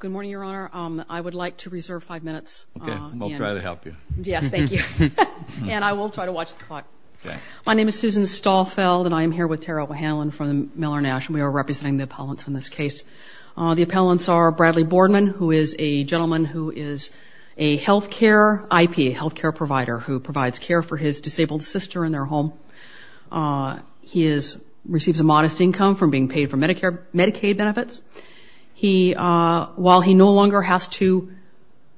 Good morning, Your Honor. I would like to reserve five minutes. Okay, we'll try to help you. Yes, thank you. And I will try to watch the clock. My name is Susan Stahlfeld, and I am here with Tara O'Hanlon from the Miller Nash, and we are representing the appellants in this case. The appellants are Bradley Boardman, who is a gentleman who is a healthcare IP, a healthcare provider, who provides care for his disabled sister in their home. He receives a modest income from being paid for Medicaid benefits. While he no longer has to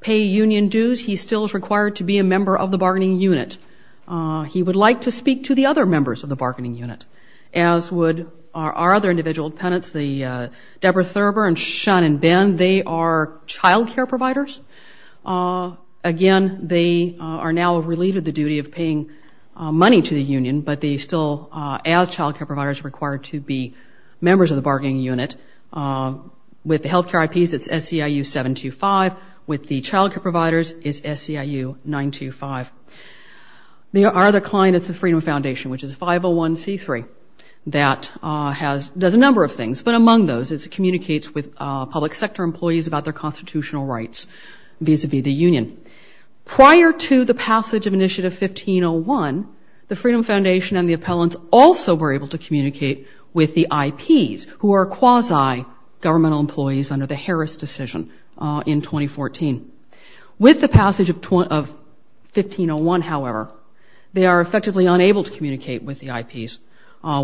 pay union dues, he still is required to be a member of the bargaining unit. He would like to speak to the other members of the bargaining unit, as would our other individual appellants, Deborah Thurber and Sean and Ben. Again, they are childcare providers. Again, they are now relieved of the duty of paying money to the union, but they still, as childcare providers, are required to be members of the bargaining unit. With the healthcare IPs, it's SEIU 725. With the childcare providers, it's SEIU 925. Our other client is the Freedom Foundation, which is 501c3. That does a number of things, but among those, it communicates with public sector employees about their constitutional rights vis-à-vis the union. Prior to the passage of Initiative 1501, the Freedom Foundation and the appellants also were able to communicate with the IPs, who are quasi-governmental employees under the Harris decision in 2014. With the passage of 1501, however, they are effectively unable to communicate with the IPs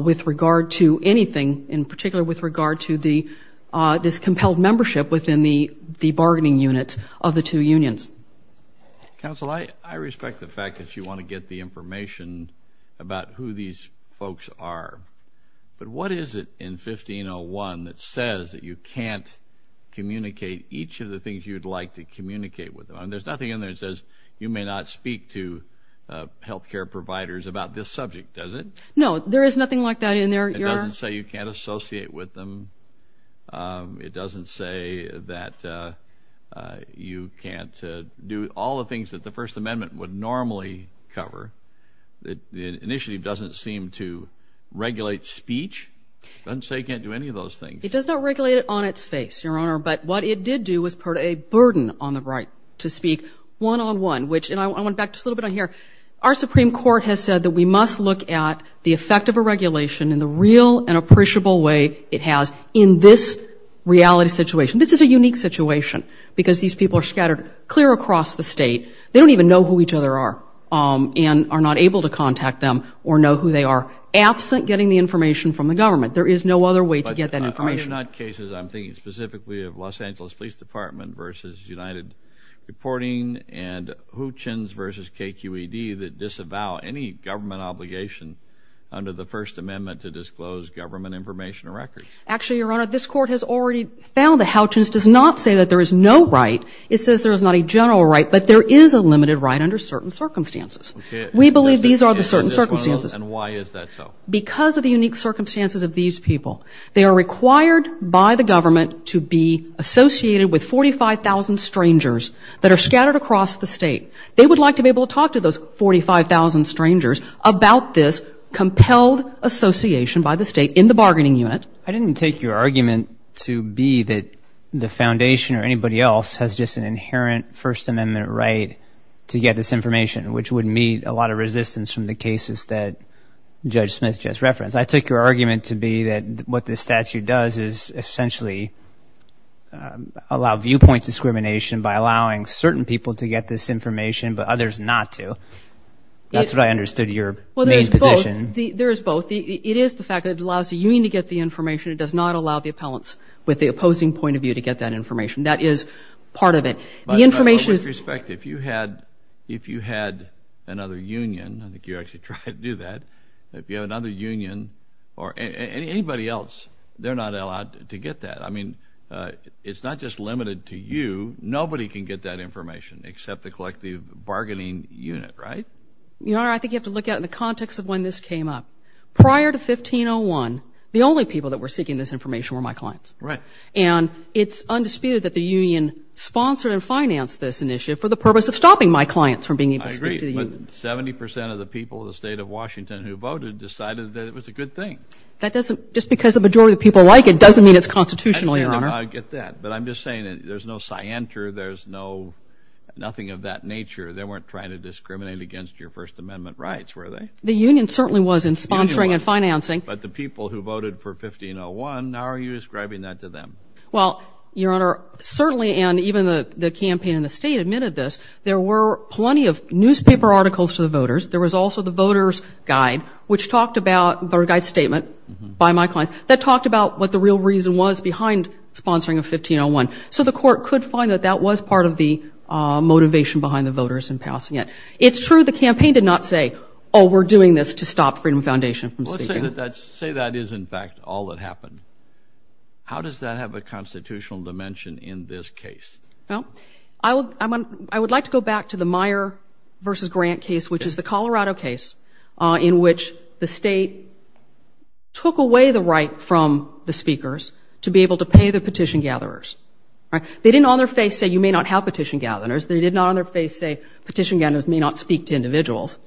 with regard to anything, in particular with regard to this compelled membership within the bargaining unit of the two unions. Counsel, I respect the fact that you want to get the information about who these folks are, but what is it in 1501 that says that you can't communicate each of the things you'd like to communicate with them? There's nothing in there that says you may not speak to healthcare providers about this subject, does it? No, there is nothing like that in there. It doesn't say you can't associate with them. It doesn't say that you can't do all the things that the First Amendment would normally cover. The initiative doesn't seem to regulate speech. It doesn't say you can't do any of those things. It does not regulate it on its face, Your Honor, but what it did do was put a burden on the right to speak one-on-one. And I want to back just a little bit on here. Our Supreme Court has said that we must look at the effect of a regulation in the real and appreciable way it has in this reality situation. This is a unique situation because these people are scattered clear across the state. They don't even know who each other are and are not able to contact them or know who they are. Absent getting the information from the government, there is no other way to get that information. These are not cases, I'm thinking specifically of Los Angeles Police Department v. United Reporting and Hutchins v. KQED that disavow any government obligation under the First Amendment to disclose government information or records. Actually, Your Honor, this Court has already found that Hutchins does not say that there is no right. It says there is not a general right, but there is a limited right under certain circumstances. We believe these are the certain circumstances. And why is that so? Because of the unique circumstances of these people. They are required by the government to be associated with 45,000 strangers that are scattered across the state. They would like to be able to talk to those 45,000 strangers about this compelled association by the state in the bargaining unit. I didn't take your argument to be that the Foundation or anybody else has just an inherent First Amendment right to get this information, which would meet a lot of resistance from the cases that Judge Smith just referenced. I took your argument to be that what this statute does is essentially allow viewpoint discrimination by allowing certain people to get this information but others not to. That's what I understood your main position. There is both. It is the fact that it allows the union to get the information. It does not allow the appellants with the opposing point of view to get that information. That is part of it. If you had another union, I think you actually tried to do that, if you have another union or anybody else, they're not allowed to get that. I mean, it's not just limited to you. Nobody can get that information except the collective bargaining unit, right? Your Honor, I think you have to look at it in the context of when this came up. Prior to 1501, the only people that were seeking this information were my clients. Right. And it's undisputed that the union sponsored and financed this initiative for the purpose of stopping my clients from being able to speak to the union. I agree, but 70% of the people in the state of Washington who voted decided that it was a good thing. Just because the majority of the people like it doesn't mean it's constitutional, Your Honor. I get that, but I'm just saying there's no scienter, there's nothing of that nature. They weren't trying to discriminate against your First Amendment rights, were they? The union certainly wasn't sponsoring and financing. But the people who voted for 1501, how are you describing that to them? Well, Your Honor, certainly and even the campaign in the state admitted this, there were plenty of newspaper articles to the voters. There was also the voter's guide, which talked about the guide statement by my clients that talked about what the real reason was behind sponsoring of 1501. So the court could find that that was part of the motivation behind the voters in passing it. It's true the campaign did not say, oh, we're doing this to stop Freedom Foundation from speaking. Let's say that is, in fact, all that happened. How does that have a constitutional dimension in this case? Well, I would like to go back to the Meyer v. Grant case, which is the Colorado case, in which the state took away the right from the speakers to be able to pay the petition gatherers. They didn't on their face say, you may not have petition gatherers. They did not on their face say, petition gatherers may not speak to individuals.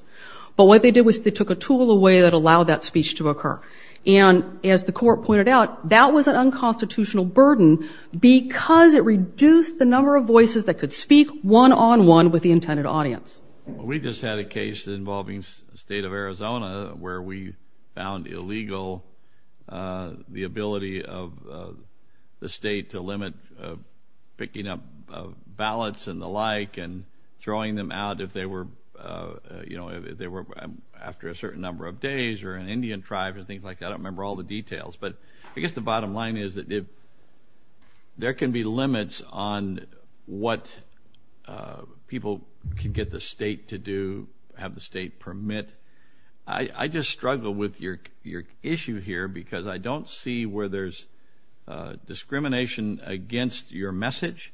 But what they did was they took a tool away that allowed that speech to occur. And as the court pointed out, that was an unconstitutional burden because it reduced the number of voices that could speak one-on-one with the intended audience. We just had a case involving the state of Arizona where we found illegal the ability of the state to limit picking up ballots and the like and throwing them out if they were after a certain number of days or an Indian tribe or things like that. I don't remember all the details, but I guess the bottom line is that there can be limits on what people can get the state to do, have the state permit. I just struggle with your issue here because I don't see where there's discrimination against your message.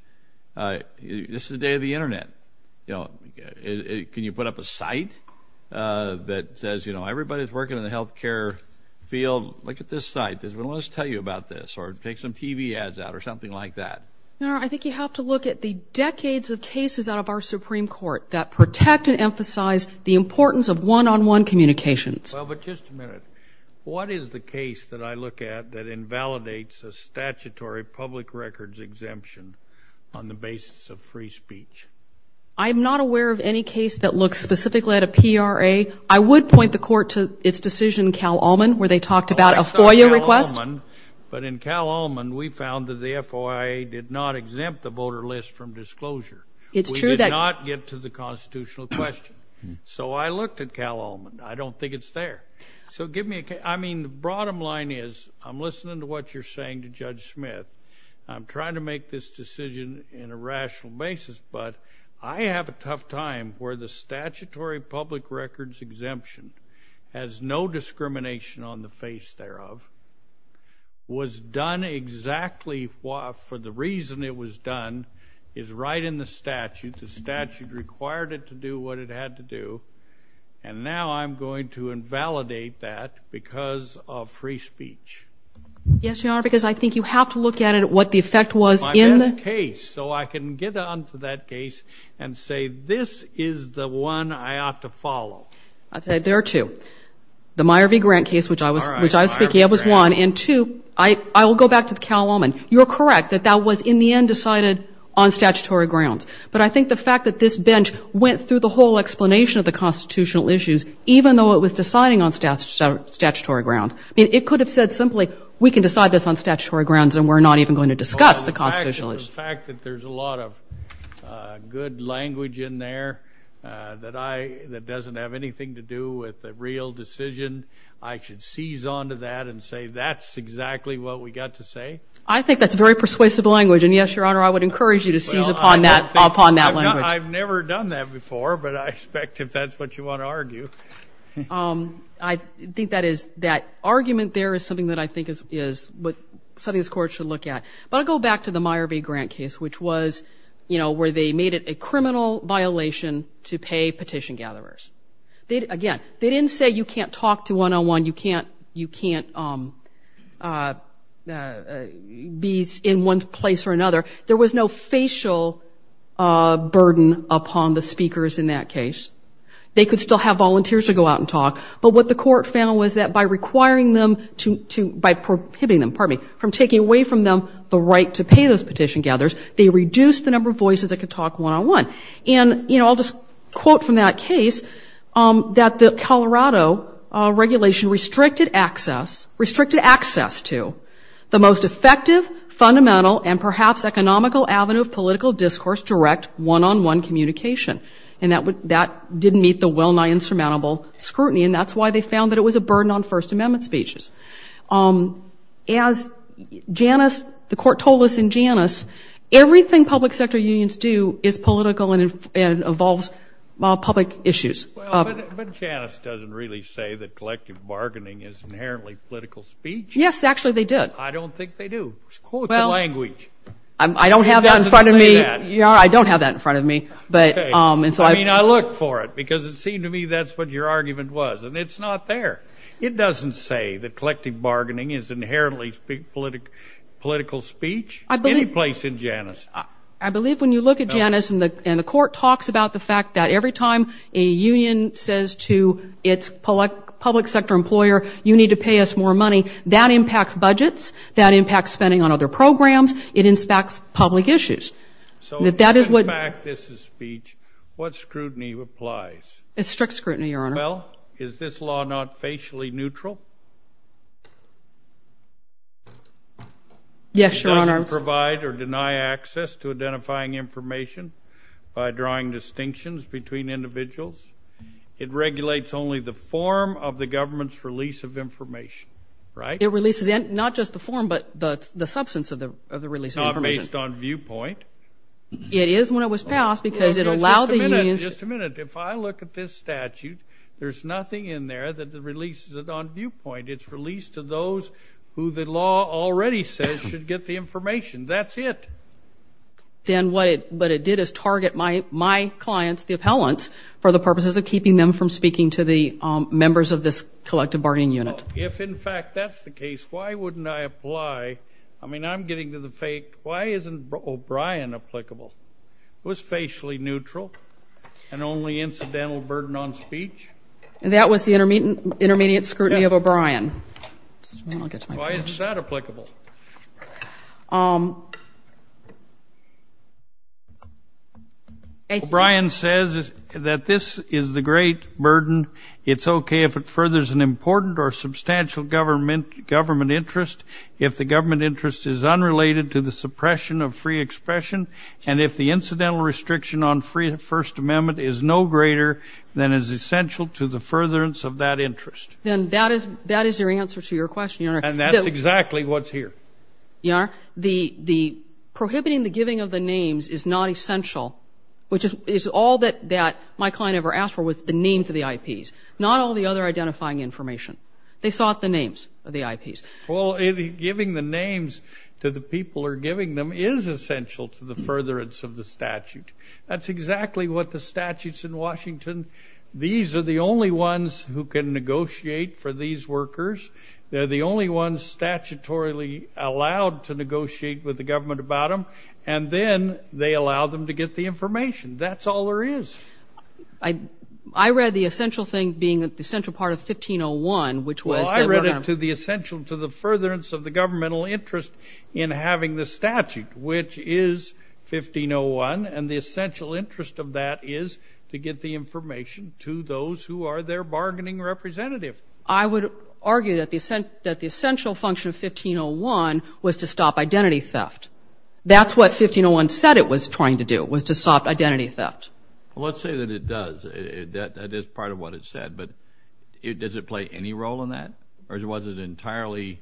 This is the day of the Internet. Can you put up a site that says, you know, everybody's working in the health care field. Look at this site. Does anyone want to tell you about this or take some TV ads out or something like that? No, I think you have to look at the decades of cases out of our Supreme Court that protect and emphasize the importance of one-on-one communications. Well, but just a minute. What is the case that I look at that invalidates a statutory public records exemption on the basis of free speech? I'm not aware of any case that looks specifically at a PRA. I would point the Court to its decision in Cal-Ullman where they talked about a FOIA request. But in Cal-Ullman, we found that the FOIA did not exempt the voter list from disclosure. We did not get to the constitutional question. So I looked at Cal-Ullman. I don't think it's there. So give me a case. I mean, the bottom line is I'm listening to what you're saying to Judge Smith. I'm trying to make this decision in a rational basis, but I have a tough time where the statutory public records exemption has no discrimination on the face thereof, was done exactly for the reason it was done is right in the statute. The statute required it to do what it had to do. And now I'm going to invalidate that because of free speech. Yes, Your Honor, because I think you have to look at it, what the effect was in the case. So I can get on to that case and say this is the one I ought to follow. There are two. The Meyer v. Grant case, which I was speaking of, was one. And two, I will go back to the Cal-Ullman. You're correct that that was in the end decided on statutory grounds. But I think the fact that this bench went through the whole explanation of the constitutional issues, even though it was deciding on statutory grounds. I mean, it could have said simply, we can decide this on statutory grounds and we're not even going to discuss the constitutional issues. The fact that there's a lot of good language in there that doesn't have anything to do with the real decision, I should seize on to that and say that's exactly what we got to say. I think that's very persuasive language. And, yes, Your Honor, I would encourage you to seize upon that language. I've never done that before, but I expect if that's what you want to argue. I think that argument there is something that I think is something this Court should look at. But I'll go back to the Meyer v. Grant case, which was, you know, where they made it a criminal violation to pay petition gatherers. Again, they didn't say you can't talk to one-on-one, you can't be in one place or another. There was no facial burden upon the speakers in that case. They could still have volunteers to go out and talk. But what the Court found was that by prohibiting them, pardon me, from taking away from them the right to pay those petition gatherers, they reduced the number of voices that could talk one-on-one. And, you know, I'll just quote from that case, that the Colorado regulation restricted access to the most effective, fundamental, and perhaps economical avenue of political discourse, direct one-on-one communication. And that didn't meet the well-nigh insurmountable scrutiny. And that's why they found that it was a burden on First Amendment speeches. As Janice, the Court told us in Janice, everything public sector unions do is political and involves public issues. But Janice doesn't really say that collective bargaining is inherently political speech. Yes, actually they did. I don't think they do. Quote the language. I don't have that in front of me. It doesn't say that. I don't have that in front of me. Okay. I mean, I look for it, because it seemed to me that's what your argument was. And it's not there. It doesn't say that collective bargaining is inherently political speech, any place in Janice. I believe when you look at Janice and the Court talks about the fact that every time a union says to its public sector employer, you need to pay us more money, that impacts budgets, that impacts spending on other programs, it impacts public issues. So in fact this is speech, what scrutiny applies? It's strict scrutiny, Your Honor. Well, is this law not facially neutral? Yes, Your Honor. It doesn't provide or deny access to identifying information by drawing distinctions between individuals. It regulates only the form of the government's release of information, right? It releases not just the form, but the substance of the release of information. Based on viewpoint. It is when it was passed because it allowed the unions. Just a minute. If I look at this statute, there's nothing in there that releases it on viewpoint. It's released to those who the law already says should get the information. That's it. Then what it did is target my clients, the appellants, for the purposes of keeping them from speaking to the members of this collective bargaining unit. If, in fact, that's the case, why wouldn't I apply? I mean, I'm getting to the fact, why isn't O'Brien applicable? It was facially neutral and only incidental burden on speech. That was the intermediate scrutiny of O'Brien. Why isn't that applicable? O'Brien says that this is the great burden. It's okay if it furthers an important or substantial government interest. If the government interest is unrelated to the suppression of free expression and if the incidental restriction on free first amendment is no greater than is essential to the furtherance of that interest. Then that is your answer to your question, Your Honor. And that's exactly what's here. Your Honor, the prohibiting the giving of the names is not essential, which is all that my client ever asked for was the names of the IPs, not all the other identifying information. They sought the names of the IPs. Well, giving the names to the people who are giving them is essential to the furtherance of the statute. That's exactly what the statutes in Washington. These are the only ones who can negotiate for these workers. They're the only ones statutorily allowed to negotiate with the government about them, and then they allow them to get the information. That's all there is. I read the essential thing being that the central part of 1501, which was I read it to the essential to the furtherance of the governmental interest in having the statute, which is 1501, and the essential interest of that is to get the information to those who are their bargaining representative. I would argue that the essential function of 1501 was to stop identity theft. That's what 1501 said it was trying to do was to stop identity theft. Well, let's say that it does. That is part of what it said. But does it play any role in that, or was it entirely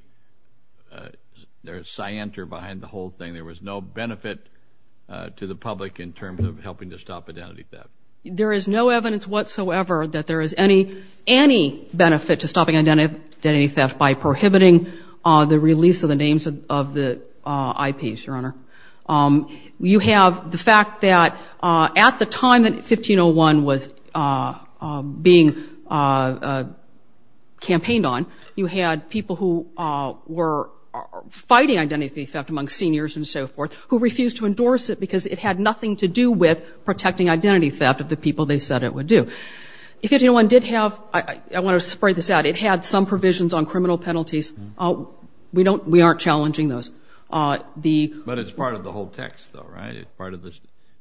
scienter behind the whole thing? There was no benefit to the public in terms of helping to stop identity theft. There is no evidence whatsoever that there is any benefit to stopping identity theft by prohibiting the release of the names of the IPs, Your Honor. You have the fact that at the time that 1501 was being campaigned on, you had people who were fighting identity theft among seniors and so forth who refused to endorse it because it had nothing to do with protecting identity theft of the people they said it would do. 1501 did have, I want to spread this out, it had some provisions on criminal penalties. We aren't challenging those. But it's part of the whole text, though, right? It's part of the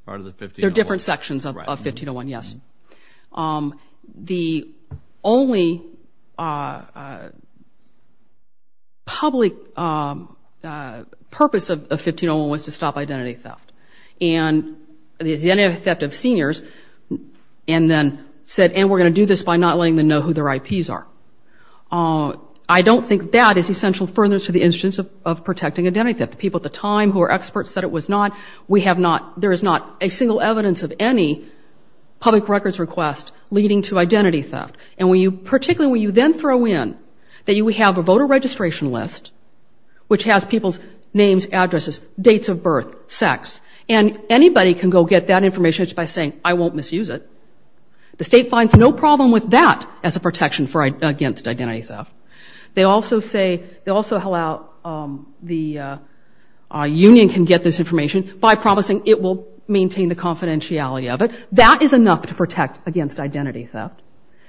1501. There are different sections of 1501, yes. The only public purpose of 1501 was to stop identity theft. And the identity theft of seniors and then said, and we're going to do this by not letting them know who their IPs are. I don't think that is essential furtherance to the instance of protecting identity theft. The people at the time who were experts said it was not. We have not, there is not a single evidence of any public records request leading to identity theft. And when you, particularly when you then throw in that you have a voter registration list which has people's names, addresses, dates of birth, sex, and anybody can go get that information just by saying, I won't misuse it. The state finds no problem with that as a protection against identity theft. They also say, they also allow, the union can get this information by promising it will maintain the confidentiality of it. That is enough to protect against identity theft.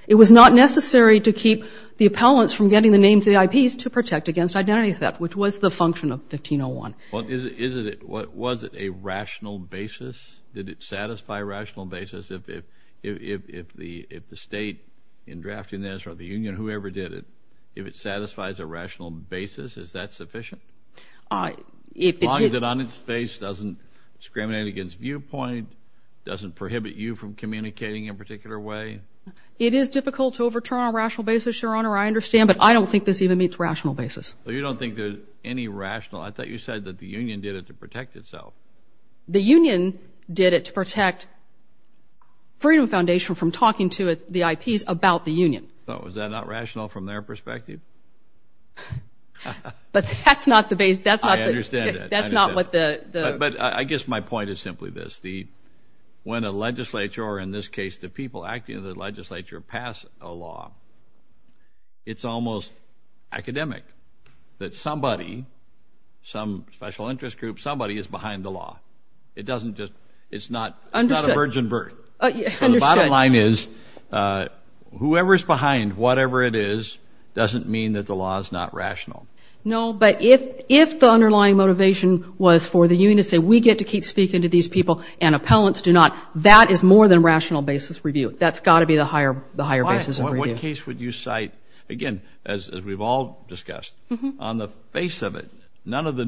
It was not necessary to keep the appellants from getting the names of the IPs to protect against identity theft, which was the function of 1501. Is it, was it a rational basis? Did it satisfy a rational basis if, if, if, if the, if the state in drafting this or the union, whoever did it, if it satisfies a rational basis, is that sufficient? If it did. As long as it on its face doesn't discriminate against viewpoint, doesn't prohibit you from communicating in a particular way. It is difficult to overturn a rational basis, Your Honor, I understand, but I don't think this even meets rational basis. Well, you don't think there's any rational, I thought you said that the union did it to protect itself. The union did it to protect Freedom Foundation from talking to the IPs about the union. So, is that not rational from their perspective? But that's not the base, that's not the, I understand that. That's not what the, the, but I guess my point is simply this. The, when a legislature or in this case the people acting in the legislature pass a law, it's almost academic that somebody, some special interest group, somebody is behind the law. It doesn't just, it's not, it's not a virgin birth. So the bottom line is whoever is behind whatever it is doesn't mean that the law is not rational. No, but if, if the underlying motivation was for the union to say we get to keep speaking to these people and appellants do not, that is more than rational basis review. That's got to be the higher, the higher basis of review. What case would you cite, again, as we've all discussed, on the face of it, none of the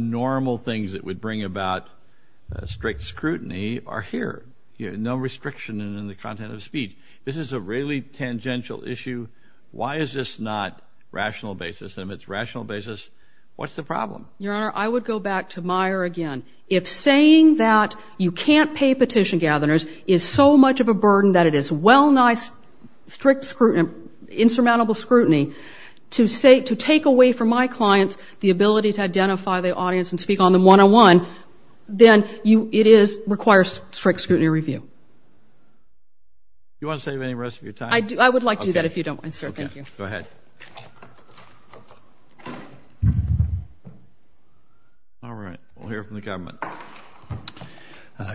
strict scrutiny are here. No restriction in the content of speech. This is a really tangential issue. Why is this not rational basis? And if it's rational basis, what's the problem? Your Honor, I would go back to Meyer again. If saying that you can't pay petition gatherers is so much of a burden that it is well nice, strict scrutiny, insurmountable scrutiny, to say, to take away from my clients the ability to identify the audience and speak on them one-on-one, then you, it is, requires strict scrutiny review. Do you want to save any rest of your time? I do. I would like to do that if you don't mind, sir. Thank you. Okay. Go ahead. All right. We'll hear from the government.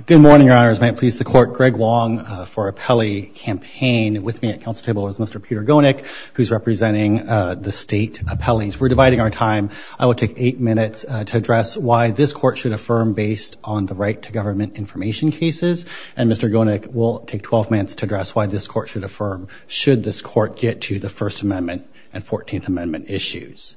Good morning, Your Honors. May it please the Court. Greg Wong for appellee campaign. With me at council table is Mr. Peter Gonick, who's representing the state appellees. We're dividing our time. I will take eight minutes to address why this court should affirm based on the right to government information cases. And Mr. Gonick will take 12 minutes to address why this court should affirm should this court get to the First Amendment and 14th Amendment issues.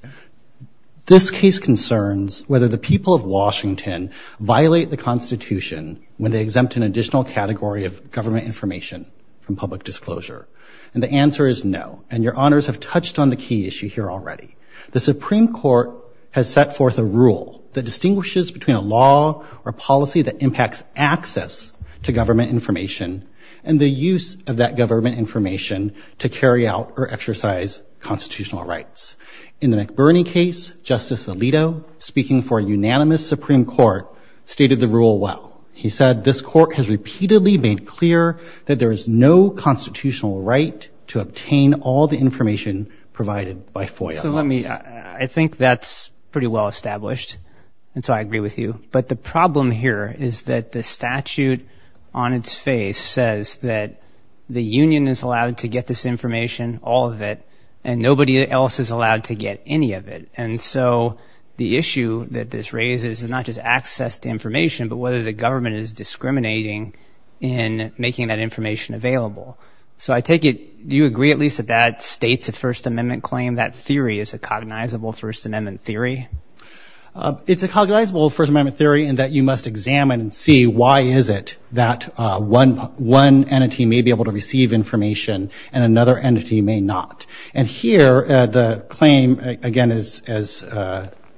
This case concerns whether the people of Washington violate the Constitution when they exempt an additional category of government information from public disclosure. And the answer is no. And Your Honors have touched on the key issue here already. The Supreme Court has set forth a rule that distinguishes between a law or policy that impacts access to government information and the use of that government information to carry out or exercise constitutional rights. In the McBurney case, Justice Alito, speaking for a unanimous Supreme Court, stated the rule well. He said this court has repeatedly made clear that there is no constitutional right to obtain all the information provided by FOIA. So let me, I think that's pretty well established, and so I agree with you. But the problem here is that the statute on its face says that the union is allowed to get this information, all of it, and nobody else is allowed to get any of it. And so the issue that this raises is not just access to information but whether the government is discriminating in making that information available. So I take it, do you agree at least that that states a First Amendment claim, that theory is a cognizable First Amendment theory? It's a cognizable First Amendment theory in that you must examine and see why is it that one entity may be able to receive information and another entity may not. And here the claim, again, as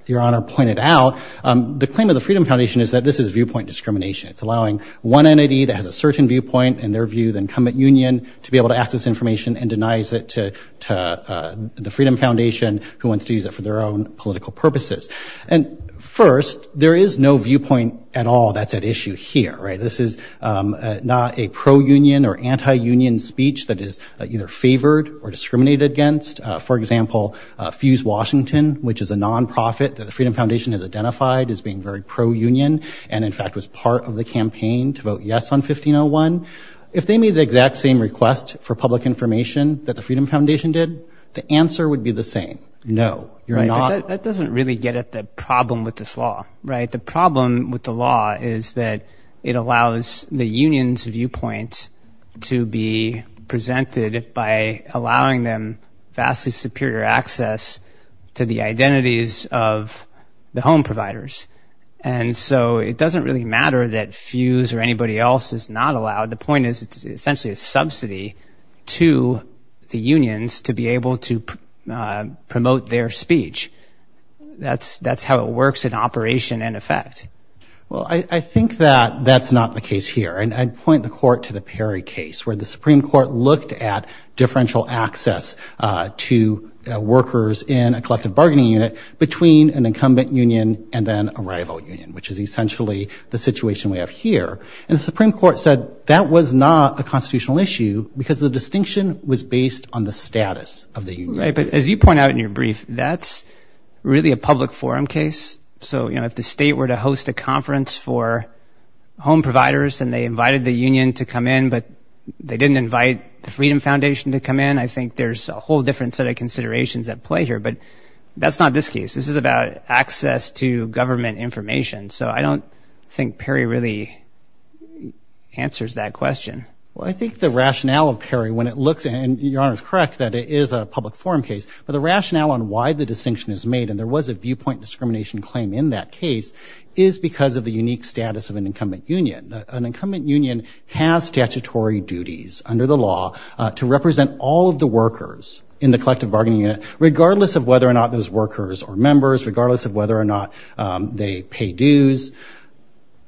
Your Honor pointed out, the claim of the Freedom Foundation is that this is viewpoint discrimination. It's allowing one entity that has a certain viewpoint in their view, the incumbent union, to be able to access information and denies it to the Freedom Foundation, who wants to use it for their own political purposes. And first, there is no viewpoint at all that's at issue here. This is not a pro-union or anti-union speech that is either favored or discriminated against. For example, Fuse Washington, which is a nonprofit that the Freedom Foundation has identified as being very pro-union and, in fact, was part of the campaign to vote yes on 1501, if they made the exact same request for public information that the Freedom Foundation did, the answer would be the same. No. That doesn't really get at the problem with this law, right? The problem with the law is that it allows the union's viewpoint to be presented by allowing them vastly superior access to the identities of the home providers. And so it doesn't really matter that Fuse or anybody else is not allowed. The point is it's essentially a subsidy to the unions to be able to promote their speech. That's how it works in operation and effect. Well, I think that that's not the case here. And I'd point the court to the Perry case where the Supreme Court looked at differential access to workers in a collective bargaining unit between an incumbent union and then a rival union, which is essentially the situation we have here. And the Supreme Court said that was not a constitutional issue because the distinction was based on the status of the union. Right, but as you point out in your brief, that's really a public forum case. So, you know, if the state were to host a conference for home providers and they invited the union to come in but they didn't invite the Freedom Foundation to come in, I think there's a whole different set of considerations at play here. But that's not this case. This is about access to government information. So I don't think Perry really answers that question. Well, I think the rationale of Perry when it looks at it, and Your Honor is correct, that it is a public forum case. But the rationale on why the distinction is made, and there was a viewpoint discrimination claim in that case, is because of the unique status of an incumbent union. An incumbent union has statutory duties under the law to represent all of the workers in the collective bargaining unit, regardless of whether or not those workers are members, regardless of whether or not they pay dues.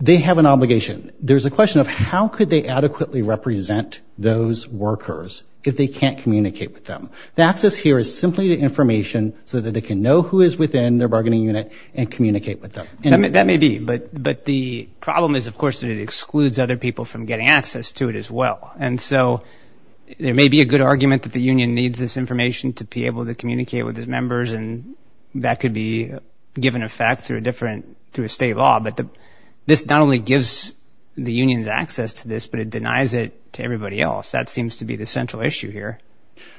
They have an obligation. There's a question of how could they adequately represent those workers if they can't communicate with them. The access here is simply to information so that they can know who is within their bargaining unit and communicate with them. That may be. But the problem is, of course, that it excludes other people from getting access to it as well. And so there may be a good argument that the union needs this information to be able to communicate with its members, and that could be given effect through a state law. But this not only gives the unions access to this, but it denies it to everybody else. That seems to be the central issue here.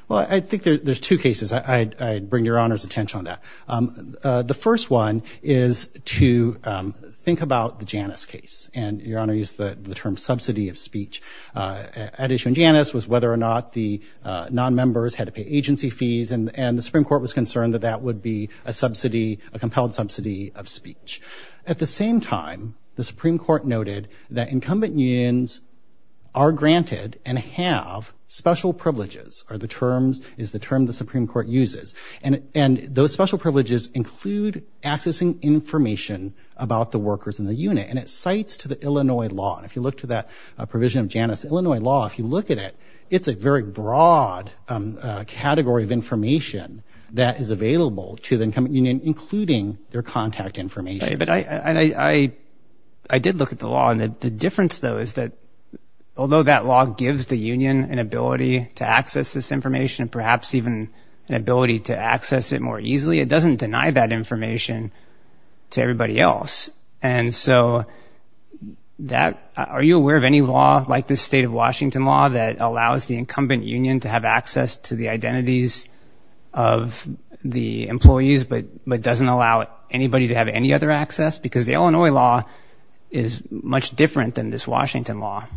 Well, I think there's two cases. I'd bring Your Honor's attention on that. The first one is to think about the Janus case. And Your Honor used the term subsidy of speech. At issue in Janus was whether or not the non-members had to pay agency fees, and the Supreme Court was concerned that that would be a subsidy, a compelled subsidy of speech. At the same time, the Supreme Court noted that incumbent unions are granted and have special privileges, is the term the Supreme Court uses. And those special privileges include accessing information about the workers in the unit, and it cites to the Illinois law. And if you look to that provision of Janus, Illinois law, if you look at it, it's a very broad category of information that is available to the incumbent union, including their contact information. But I did look at the law. And the difference, though, is that although that law gives the union an ability to access this information and perhaps even an ability to access it more easily, it doesn't deny that information to everybody else. And so that, are you aware of any law like the state of Washington law that allows the incumbent union to have access to the identities of the employees but doesn't allow anybody to have any other access? Because the Illinois law is much different than this Washington law.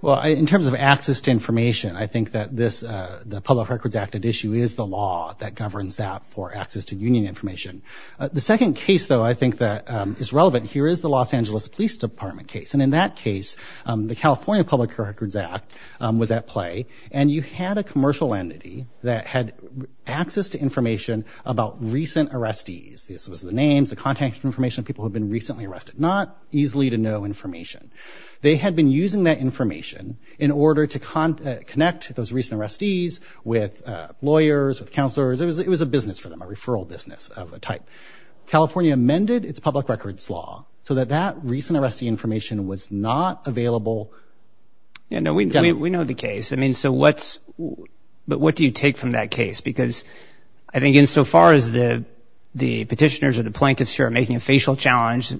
Well, in terms of access to information, I think that this, the Public Records Act issue, is the law that governs that for access to union information. The second case, though, I think that is relevant here is the Los Angeles Police Department case. And in that case, the California Public Records Act was at play, and you had a commercial entity that had access to information about recent arrestees. This was the names, the contact information of people who had been recently arrested. Not easily to know information. They had been using that information in order to connect those recent arrestees with lawyers, with counselors. It was a business for them, a referral business of a type. California amended its public records law so that that recent arrestee information was not available. Yeah, no, we know the case. I mean, so what's, but what do you take from that case? Because I think insofar as the petitioners or the plaintiffs here are making a facial challenge,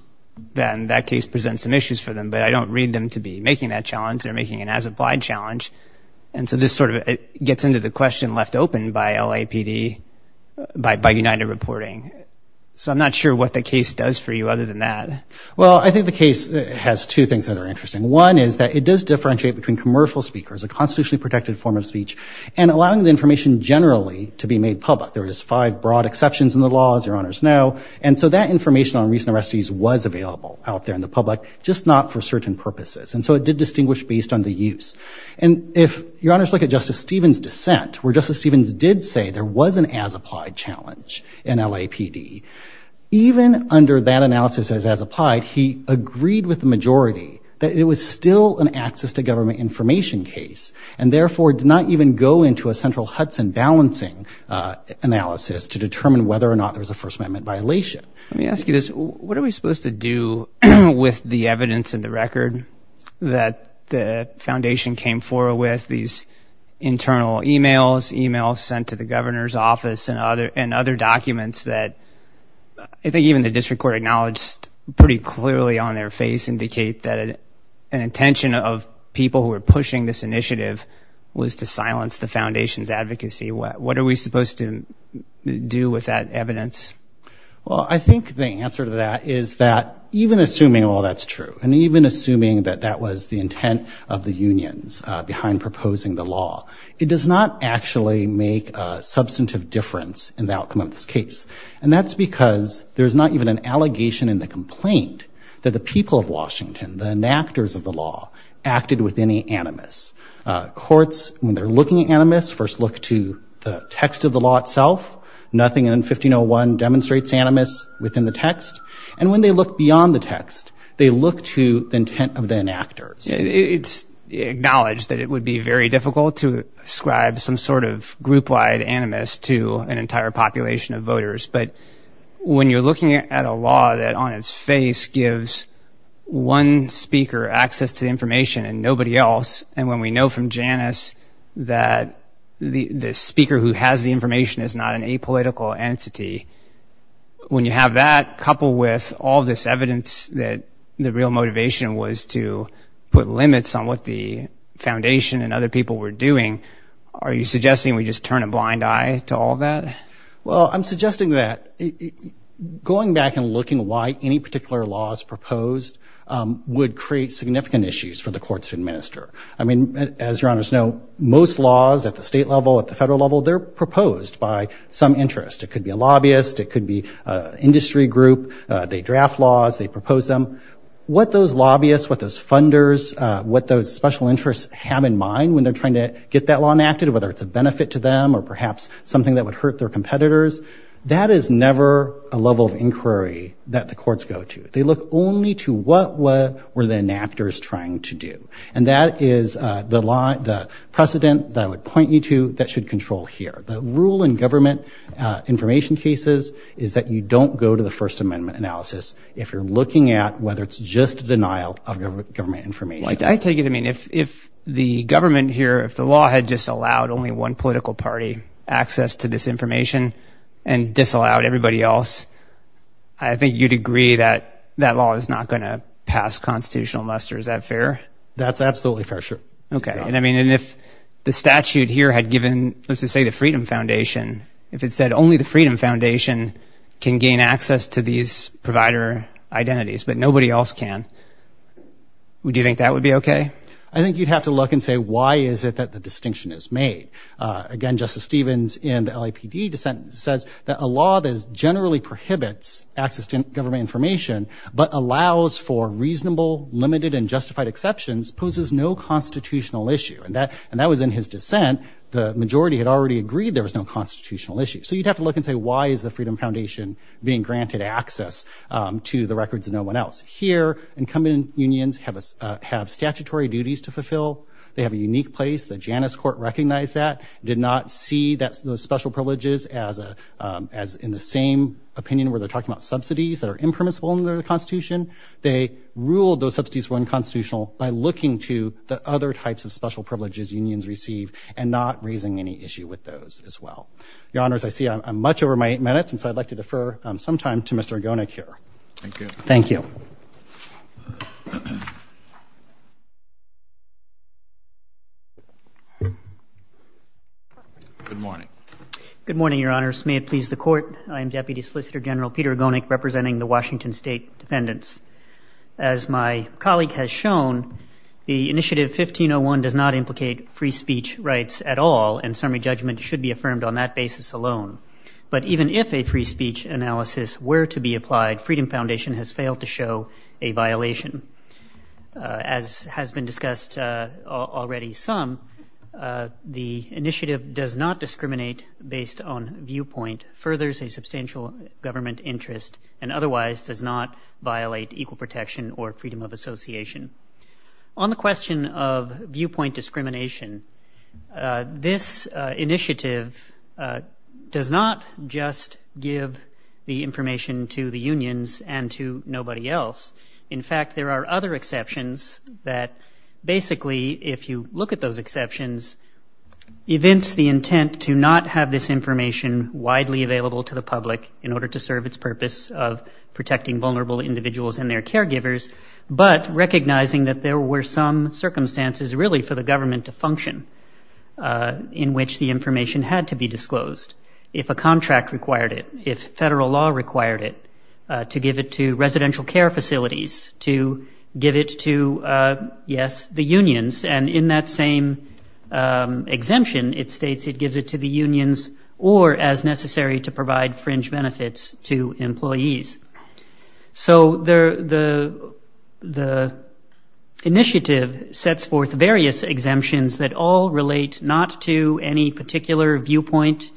then that case presents some issues for them. But I don't read them to be making that challenge. They're making an as-applied challenge. And so this sort of gets into the question left open by LAPD, by United Reporting. So I'm not sure what the case does for you other than that. Well, I think the case has two things that are interesting. One is that it does differentiate between commercial speakers, a constitutionally protected form of speech, and allowing the information generally to be made public. There is five broad exceptions in the law, as your honors know. And so that information on recent arrestees was available out there in the public, just not for certain purposes. And so it did distinguish based on the use. And if your honors look at Justice Stevens' dissent, where Justice Stevens did say there was an as-applied challenge in LAPD, even under that analysis as as-applied, he agreed with the majority that it was still an access to government information case, and therefore did not even go into a central Hudson balancing analysis to determine whether or not there was a First Amendment violation. Let me ask you this. What are we supposed to do with the evidence in the record that the foundation came forward with, these internal e-mails, e-mails sent to the governor's office and other documents that I think even the district court acknowledged pretty clearly on their face indicate that an intention of people who were pushing this initiative was to silence the foundation's advocacy? What are we supposed to do with that evidence? Well, I think the answer to that is that even assuming all that's true, and even assuming that that was the intent of the unions behind proposing the law, it does not actually make a substantive difference in the outcome of this case. And that's because there's not even an allegation in the complaint that the people of Washington, the enactors of the law, acted with any animus. Courts, when they're looking at animus, first look to the text of the law itself, nothing in 1501 demonstrates animus within the text. And when they look beyond the text, they look to the intent of the enactors. It's acknowledged that it would be very difficult to ascribe some sort of group-wide animus to an entire population of voters, but when you're looking at a law that on its face gives one speaker access to information and nobody else, and when we know from Janice that the speaker who has the information is not an apolitical entity, when you have that coupled with all this evidence that the real motivation was to put limits on what the foundation and other people were doing, are you suggesting we just turn a blind eye to all that? Well, I'm suggesting that going back and looking at why any particular law is proposed would create significant issues for the courts to administer. I mean, as your honors know, most laws at the state level, at the federal level, they're proposed by some interest. It could be a lobbyist. It could be an industry group. They draft laws. They propose them. What those lobbyists, what those funders, what those special interests have in mind when they're trying to get that law enacted, whether it's a benefit to them or perhaps something that would hurt their competitors, that is never a level of inquiry that the courts go to. They look only to what were the enactors trying to do, and that is the precedent that I would point you to that should control here. The rule in government information cases is that you don't go to the First Amendment analysis if you're looking at whether it's just denial of government information. I take it. I mean, if the government here, if the law had just allowed only one political party access to this information and disallowed everybody else, I think you'd agree that that law is not going to pass constitutional muster. Is that fair? That's absolutely fair, sure. Okay. And I mean, if the statute here had given, let's just say the Freedom Foundation, if it said only the Freedom Foundation can gain access to these provider identities but nobody else can, would you think that would be okay? I think you'd have to look and say, why is it that the distinction is made? Again, Justice Stevens in the LAPD dissent says that a law that generally prohibits access to government information but allows for reasonable, limited, and justified exceptions poses no constitutional issue. And that was in his dissent. The majority had already agreed there was no constitutional issue. So you'd have to look and say, why is the Freedom Foundation being granted access to the records of no one else? Here, incumbent unions have statutory duties to fulfill. They have a unique place. The Janus Court recognized that, did not see those special privileges as in the same opinion where they're talking about subsidies that are impermissible under the Constitution. They ruled those subsidies were unconstitutional by looking to the other types of special privileges unions receive and not raising any issue with those as well. Your Honors, I see I'm much over my eight minutes, and so I'd like to defer some time to Mr. Argonik here. Thank you. Thank you. Good morning. Good morning, Your Honors. May it please the Court, I am Deputy Solicitor General Peter Argonik, representing the Washington State Dependents. As my colleague has shown, the Initiative 1501 does not implicate free speech rights at all, and summary judgment should be affirmed on that basis alone. But even if a free speech analysis were to be applied, Freedom Foundation has failed to show a violation. As has been discussed already some, the initiative does not discriminate based on viewpoint, furthers a substantial government interest, and otherwise does not violate equal protection or freedom of association. On the question of viewpoint discrimination, this initiative does not just give the information to the unions and to nobody else. In fact, there are other exceptions that basically, if you look at those exceptions, evince the intent to not have this information widely available to the public in order to serve its purpose of protecting vulnerable individuals and their caregivers, but recognizing that there were some circumstances really for the government to function in which the information had to be disclosed, if a contract required it, if federal law required it to give it to residential care facilities, to give it to, yes, the unions. And in that same exemption, it states it gives it to the unions or, as necessary, to provide fringe benefits to employees. So the initiative sets forth various exemptions that all relate not to any particular viewpoint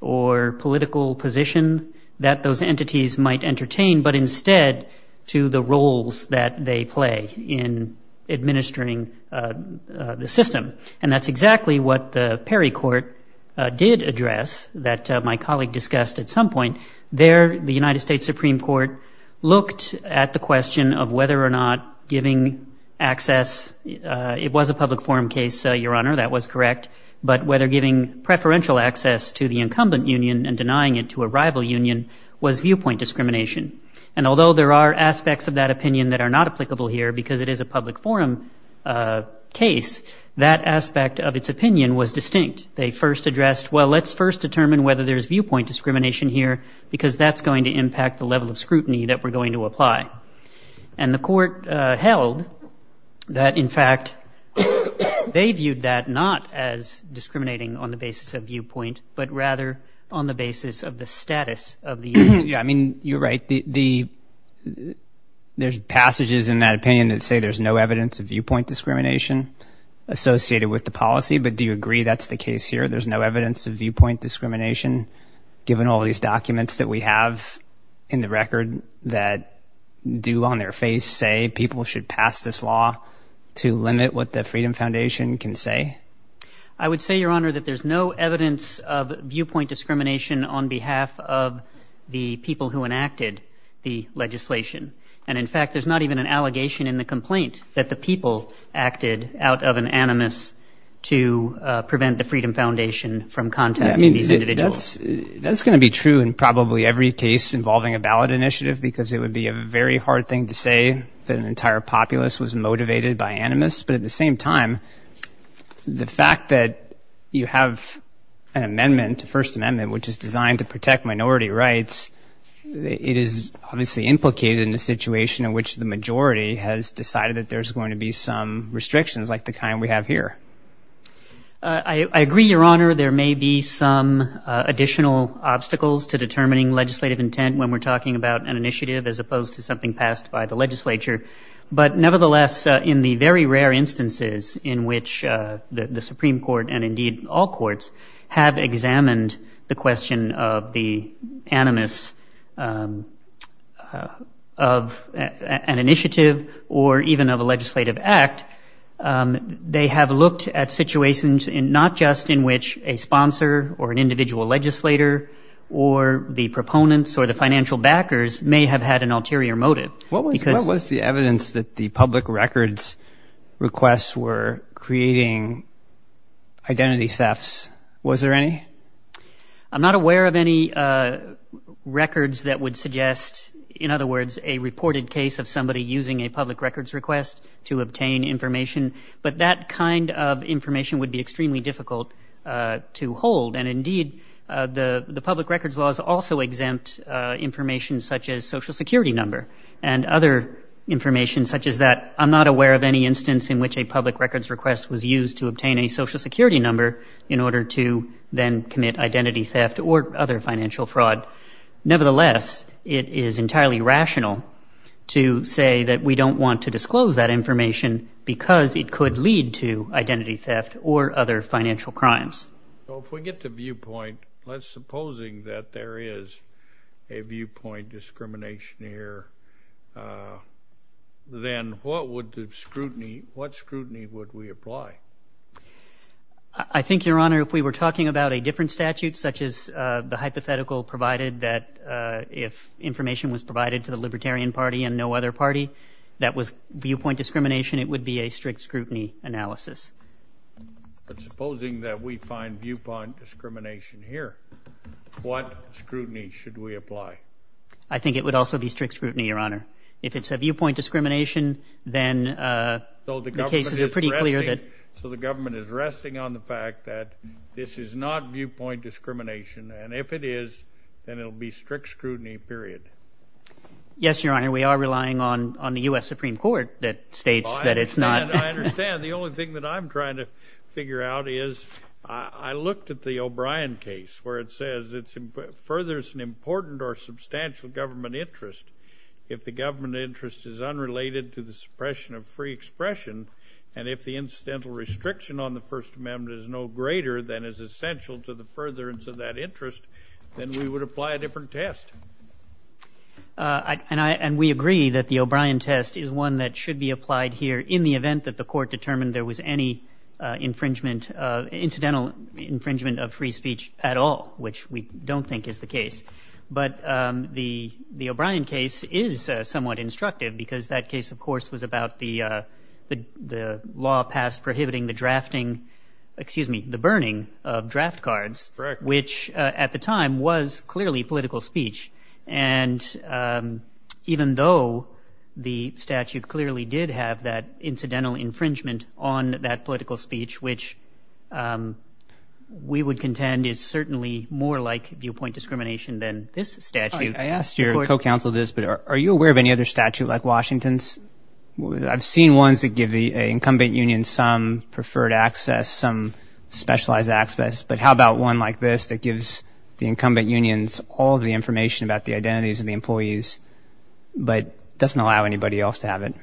or political position that those entities might entertain, but instead to the roles that they play in administering the system. And that's exactly what the Perry Court did address, that my colleague discussed at some point. There, the United States Supreme Court looked at the question of whether or not giving access it was a public forum case, Your Honor, that was correct, but whether giving preferential access to the incumbent union and denying it to a rival union was viewpoint discrimination. And although there are aspects of that opinion that are not applicable here because it is a public forum case, that aspect of its opinion was distinct. They first addressed, well, let's first determine whether there's viewpoint discrimination here because that's going to impact the level of scrutiny that we're going to apply. And the court held that, in fact, they viewed that not as discriminating on the basis of viewpoint but rather on the basis of the status of the union. I mean, you're right. There's passages in that opinion that say there's no evidence of viewpoint discrimination associated with the policy. But do you agree that's the case here? There's no evidence of viewpoint discrimination given all these documents that we have in the record that do on their face say people should pass this law to limit what the Freedom Foundation can say? I would say, Your Honor, that there's no evidence of viewpoint discrimination on behalf of the people who enacted the legislation. And, in fact, there's not even an allegation in the complaint that the people acted out of an animus to prevent the Freedom Foundation from contacting these individuals. That's going to be true in probably every case involving a ballot initiative because it would be a very hard thing to say that an entire populace was discriminated against. And the fact that you have an amendment, a First Amendment, which is designed to protect minority rights, it is obviously implicated in the situation in which the majority has decided that there's going to be some restrictions like the kind we have here. I agree, Your Honor. There may be some additional obstacles to determining legislative intent when we're talking about an initiative as opposed to the Supreme Court and, indeed, all courts have examined the question of the animus of an initiative or even of a legislative act. They have looked at situations not just in which a sponsor or an individual legislator or the proponents or the financial backers may have had an ulterior motive. Identity thefts, was there any? I'm not aware of any records that would suggest, in other words, a reported case of somebody using a public records request to obtain information, but that kind of information would be extremely difficult to hold. And, indeed, the public records laws also exempt information such as social security number and other information such as that. I'm not aware of any case where a public records request was used to obtain a social security number in order to then commit identity theft or other financial fraud. Nevertheless, it is entirely rational to say that we don't want to disclose that information because it could lead to identity theft or other financial crimes. Well, if we get the viewpoint, let's supposing that there is a viewpoint discrimination here, then what would the scrutiny, what scrutiny would we apply? I think, Your Honor, if we were talking about a different statute such as the hypothetical provided that if information was provided to the Libertarian Party and no other party, that was viewpoint discrimination, it would be a strict scrutiny analysis. But supposing that we find viewpoint discrimination here, what scrutiny should we apply? I think it would also be strict scrutiny, Your Honor. If it's a viewpoint discrimination, then the cases are pretty clear that... So the government is resting on the fact that this is not viewpoint discrimination, and if it is, then it will be strict scrutiny, period. Yes, Your Honor, we are relying on the U.S. Supreme Court that states that it's not... I understand. The only thing that I'm trying to figure out is I looked at the O'Brien case where it says it furthers an important or substantial government interest. If the government interest is unrelated to the suppression of free expression, and if the incidental restriction on the First Amendment is no greater than is essential to the furtherance of that interest, then we would apply a different test. And we agree that the O'Brien test is one that should be applied here in the event that the court determined there was any incidental infringement, which I don't think is the case. But the O'Brien case is somewhat instructive because that case, of course, was about the law passed prohibiting the drafting... Excuse me, the burning of draft cards, which at the time was clearly political speech. And even though the statute clearly did have that incidental infringement on that political speech, which we would contend is certainly more like viewpoint discrimination than this statute. I asked your co-counsel this, but are you aware of any other statute like Washington's? I've seen ones that give the incumbent union some preferred access, some specialized access. But how about one like this that gives the incumbent unions all the information about the identities of the employees, but doesn't allow anybody else to have it?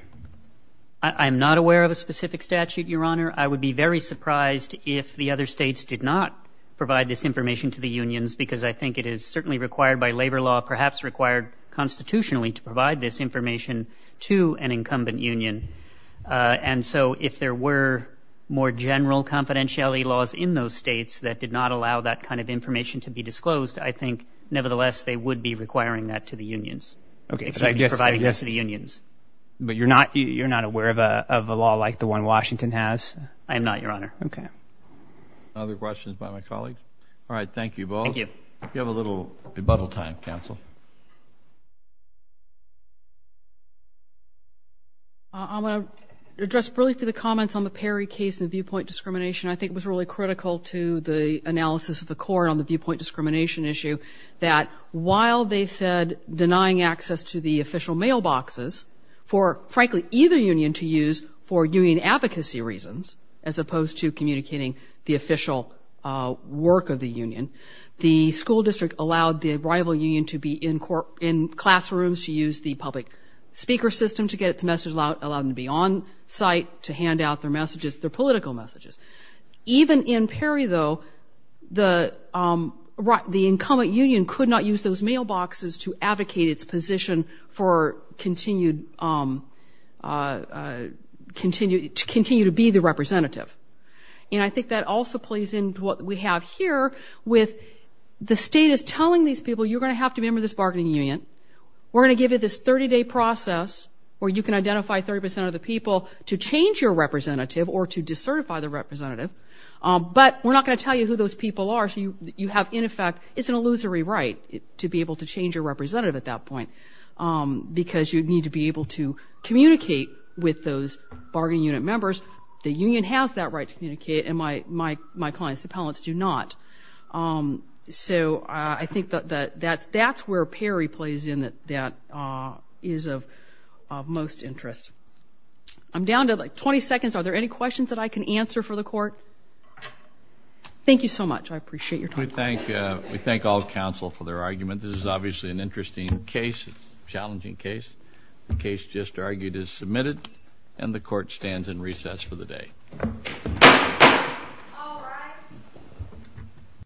I'm not aware of a specific statute, Your Honor. I would be very surprised if the other states did not provide this information to the unions, because I think it is certainly required by labor law, perhaps required constitutionally to provide this information to an incumbent union. And so if there were more general confidentiality laws in those states that did not allow that kind of information to be disclosed, I think nevertheless they would be requiring that to the unions. Providing this to the unions. But you're not aware of a law like the one Washington has? I am not, Your Honor. Okay. Other questions by my colleagues? All right. Thank you both. Thank you. We have a little rebuttal time, counsel. I'm going to address really for the comments on the Perry case and viewpoint discrimination. I think it was really critical to the analysis of the case. The Perry case was a case where the school district allowed the union to have access to the official mailboxes for, frankly, either union to use for union advocacy reasons, as opposed to communicating the official work of the union. The school district allowed the rival union to be in classrooms, to use the public speaker system to get its message out, allow them to be on site, to hand out their messages, their political messages. Even in Perry, though, the incumbent union could not use those mailboxes to advocate its position for continued, to continue to be the representative. And I think that also plays into what we have here with the state is telling these people, you're going to have to be a member of this bargaining union. We're going to give you this 30-day process where you can identify 30% of the people to change your representative or to certify the representative, but we're not going to tell you who those people are. So you have, in effect, it's an illusory right to be able to change your representative at that point because you'd need to be able to communicate with those bargaining unit members. The union has that right to communicate, and my clients, the appellants, do not. So I think that that's where Perry plays in that is of most interest. I'm down to like 20 seconds. Are there any questions that I can answer for the court? Thank you so much. I appreciate your time. We thank all counsel for their argument. This is obviously an interesting case, a challenging case. The case just argued is submitted, and the court stands in recess for the day.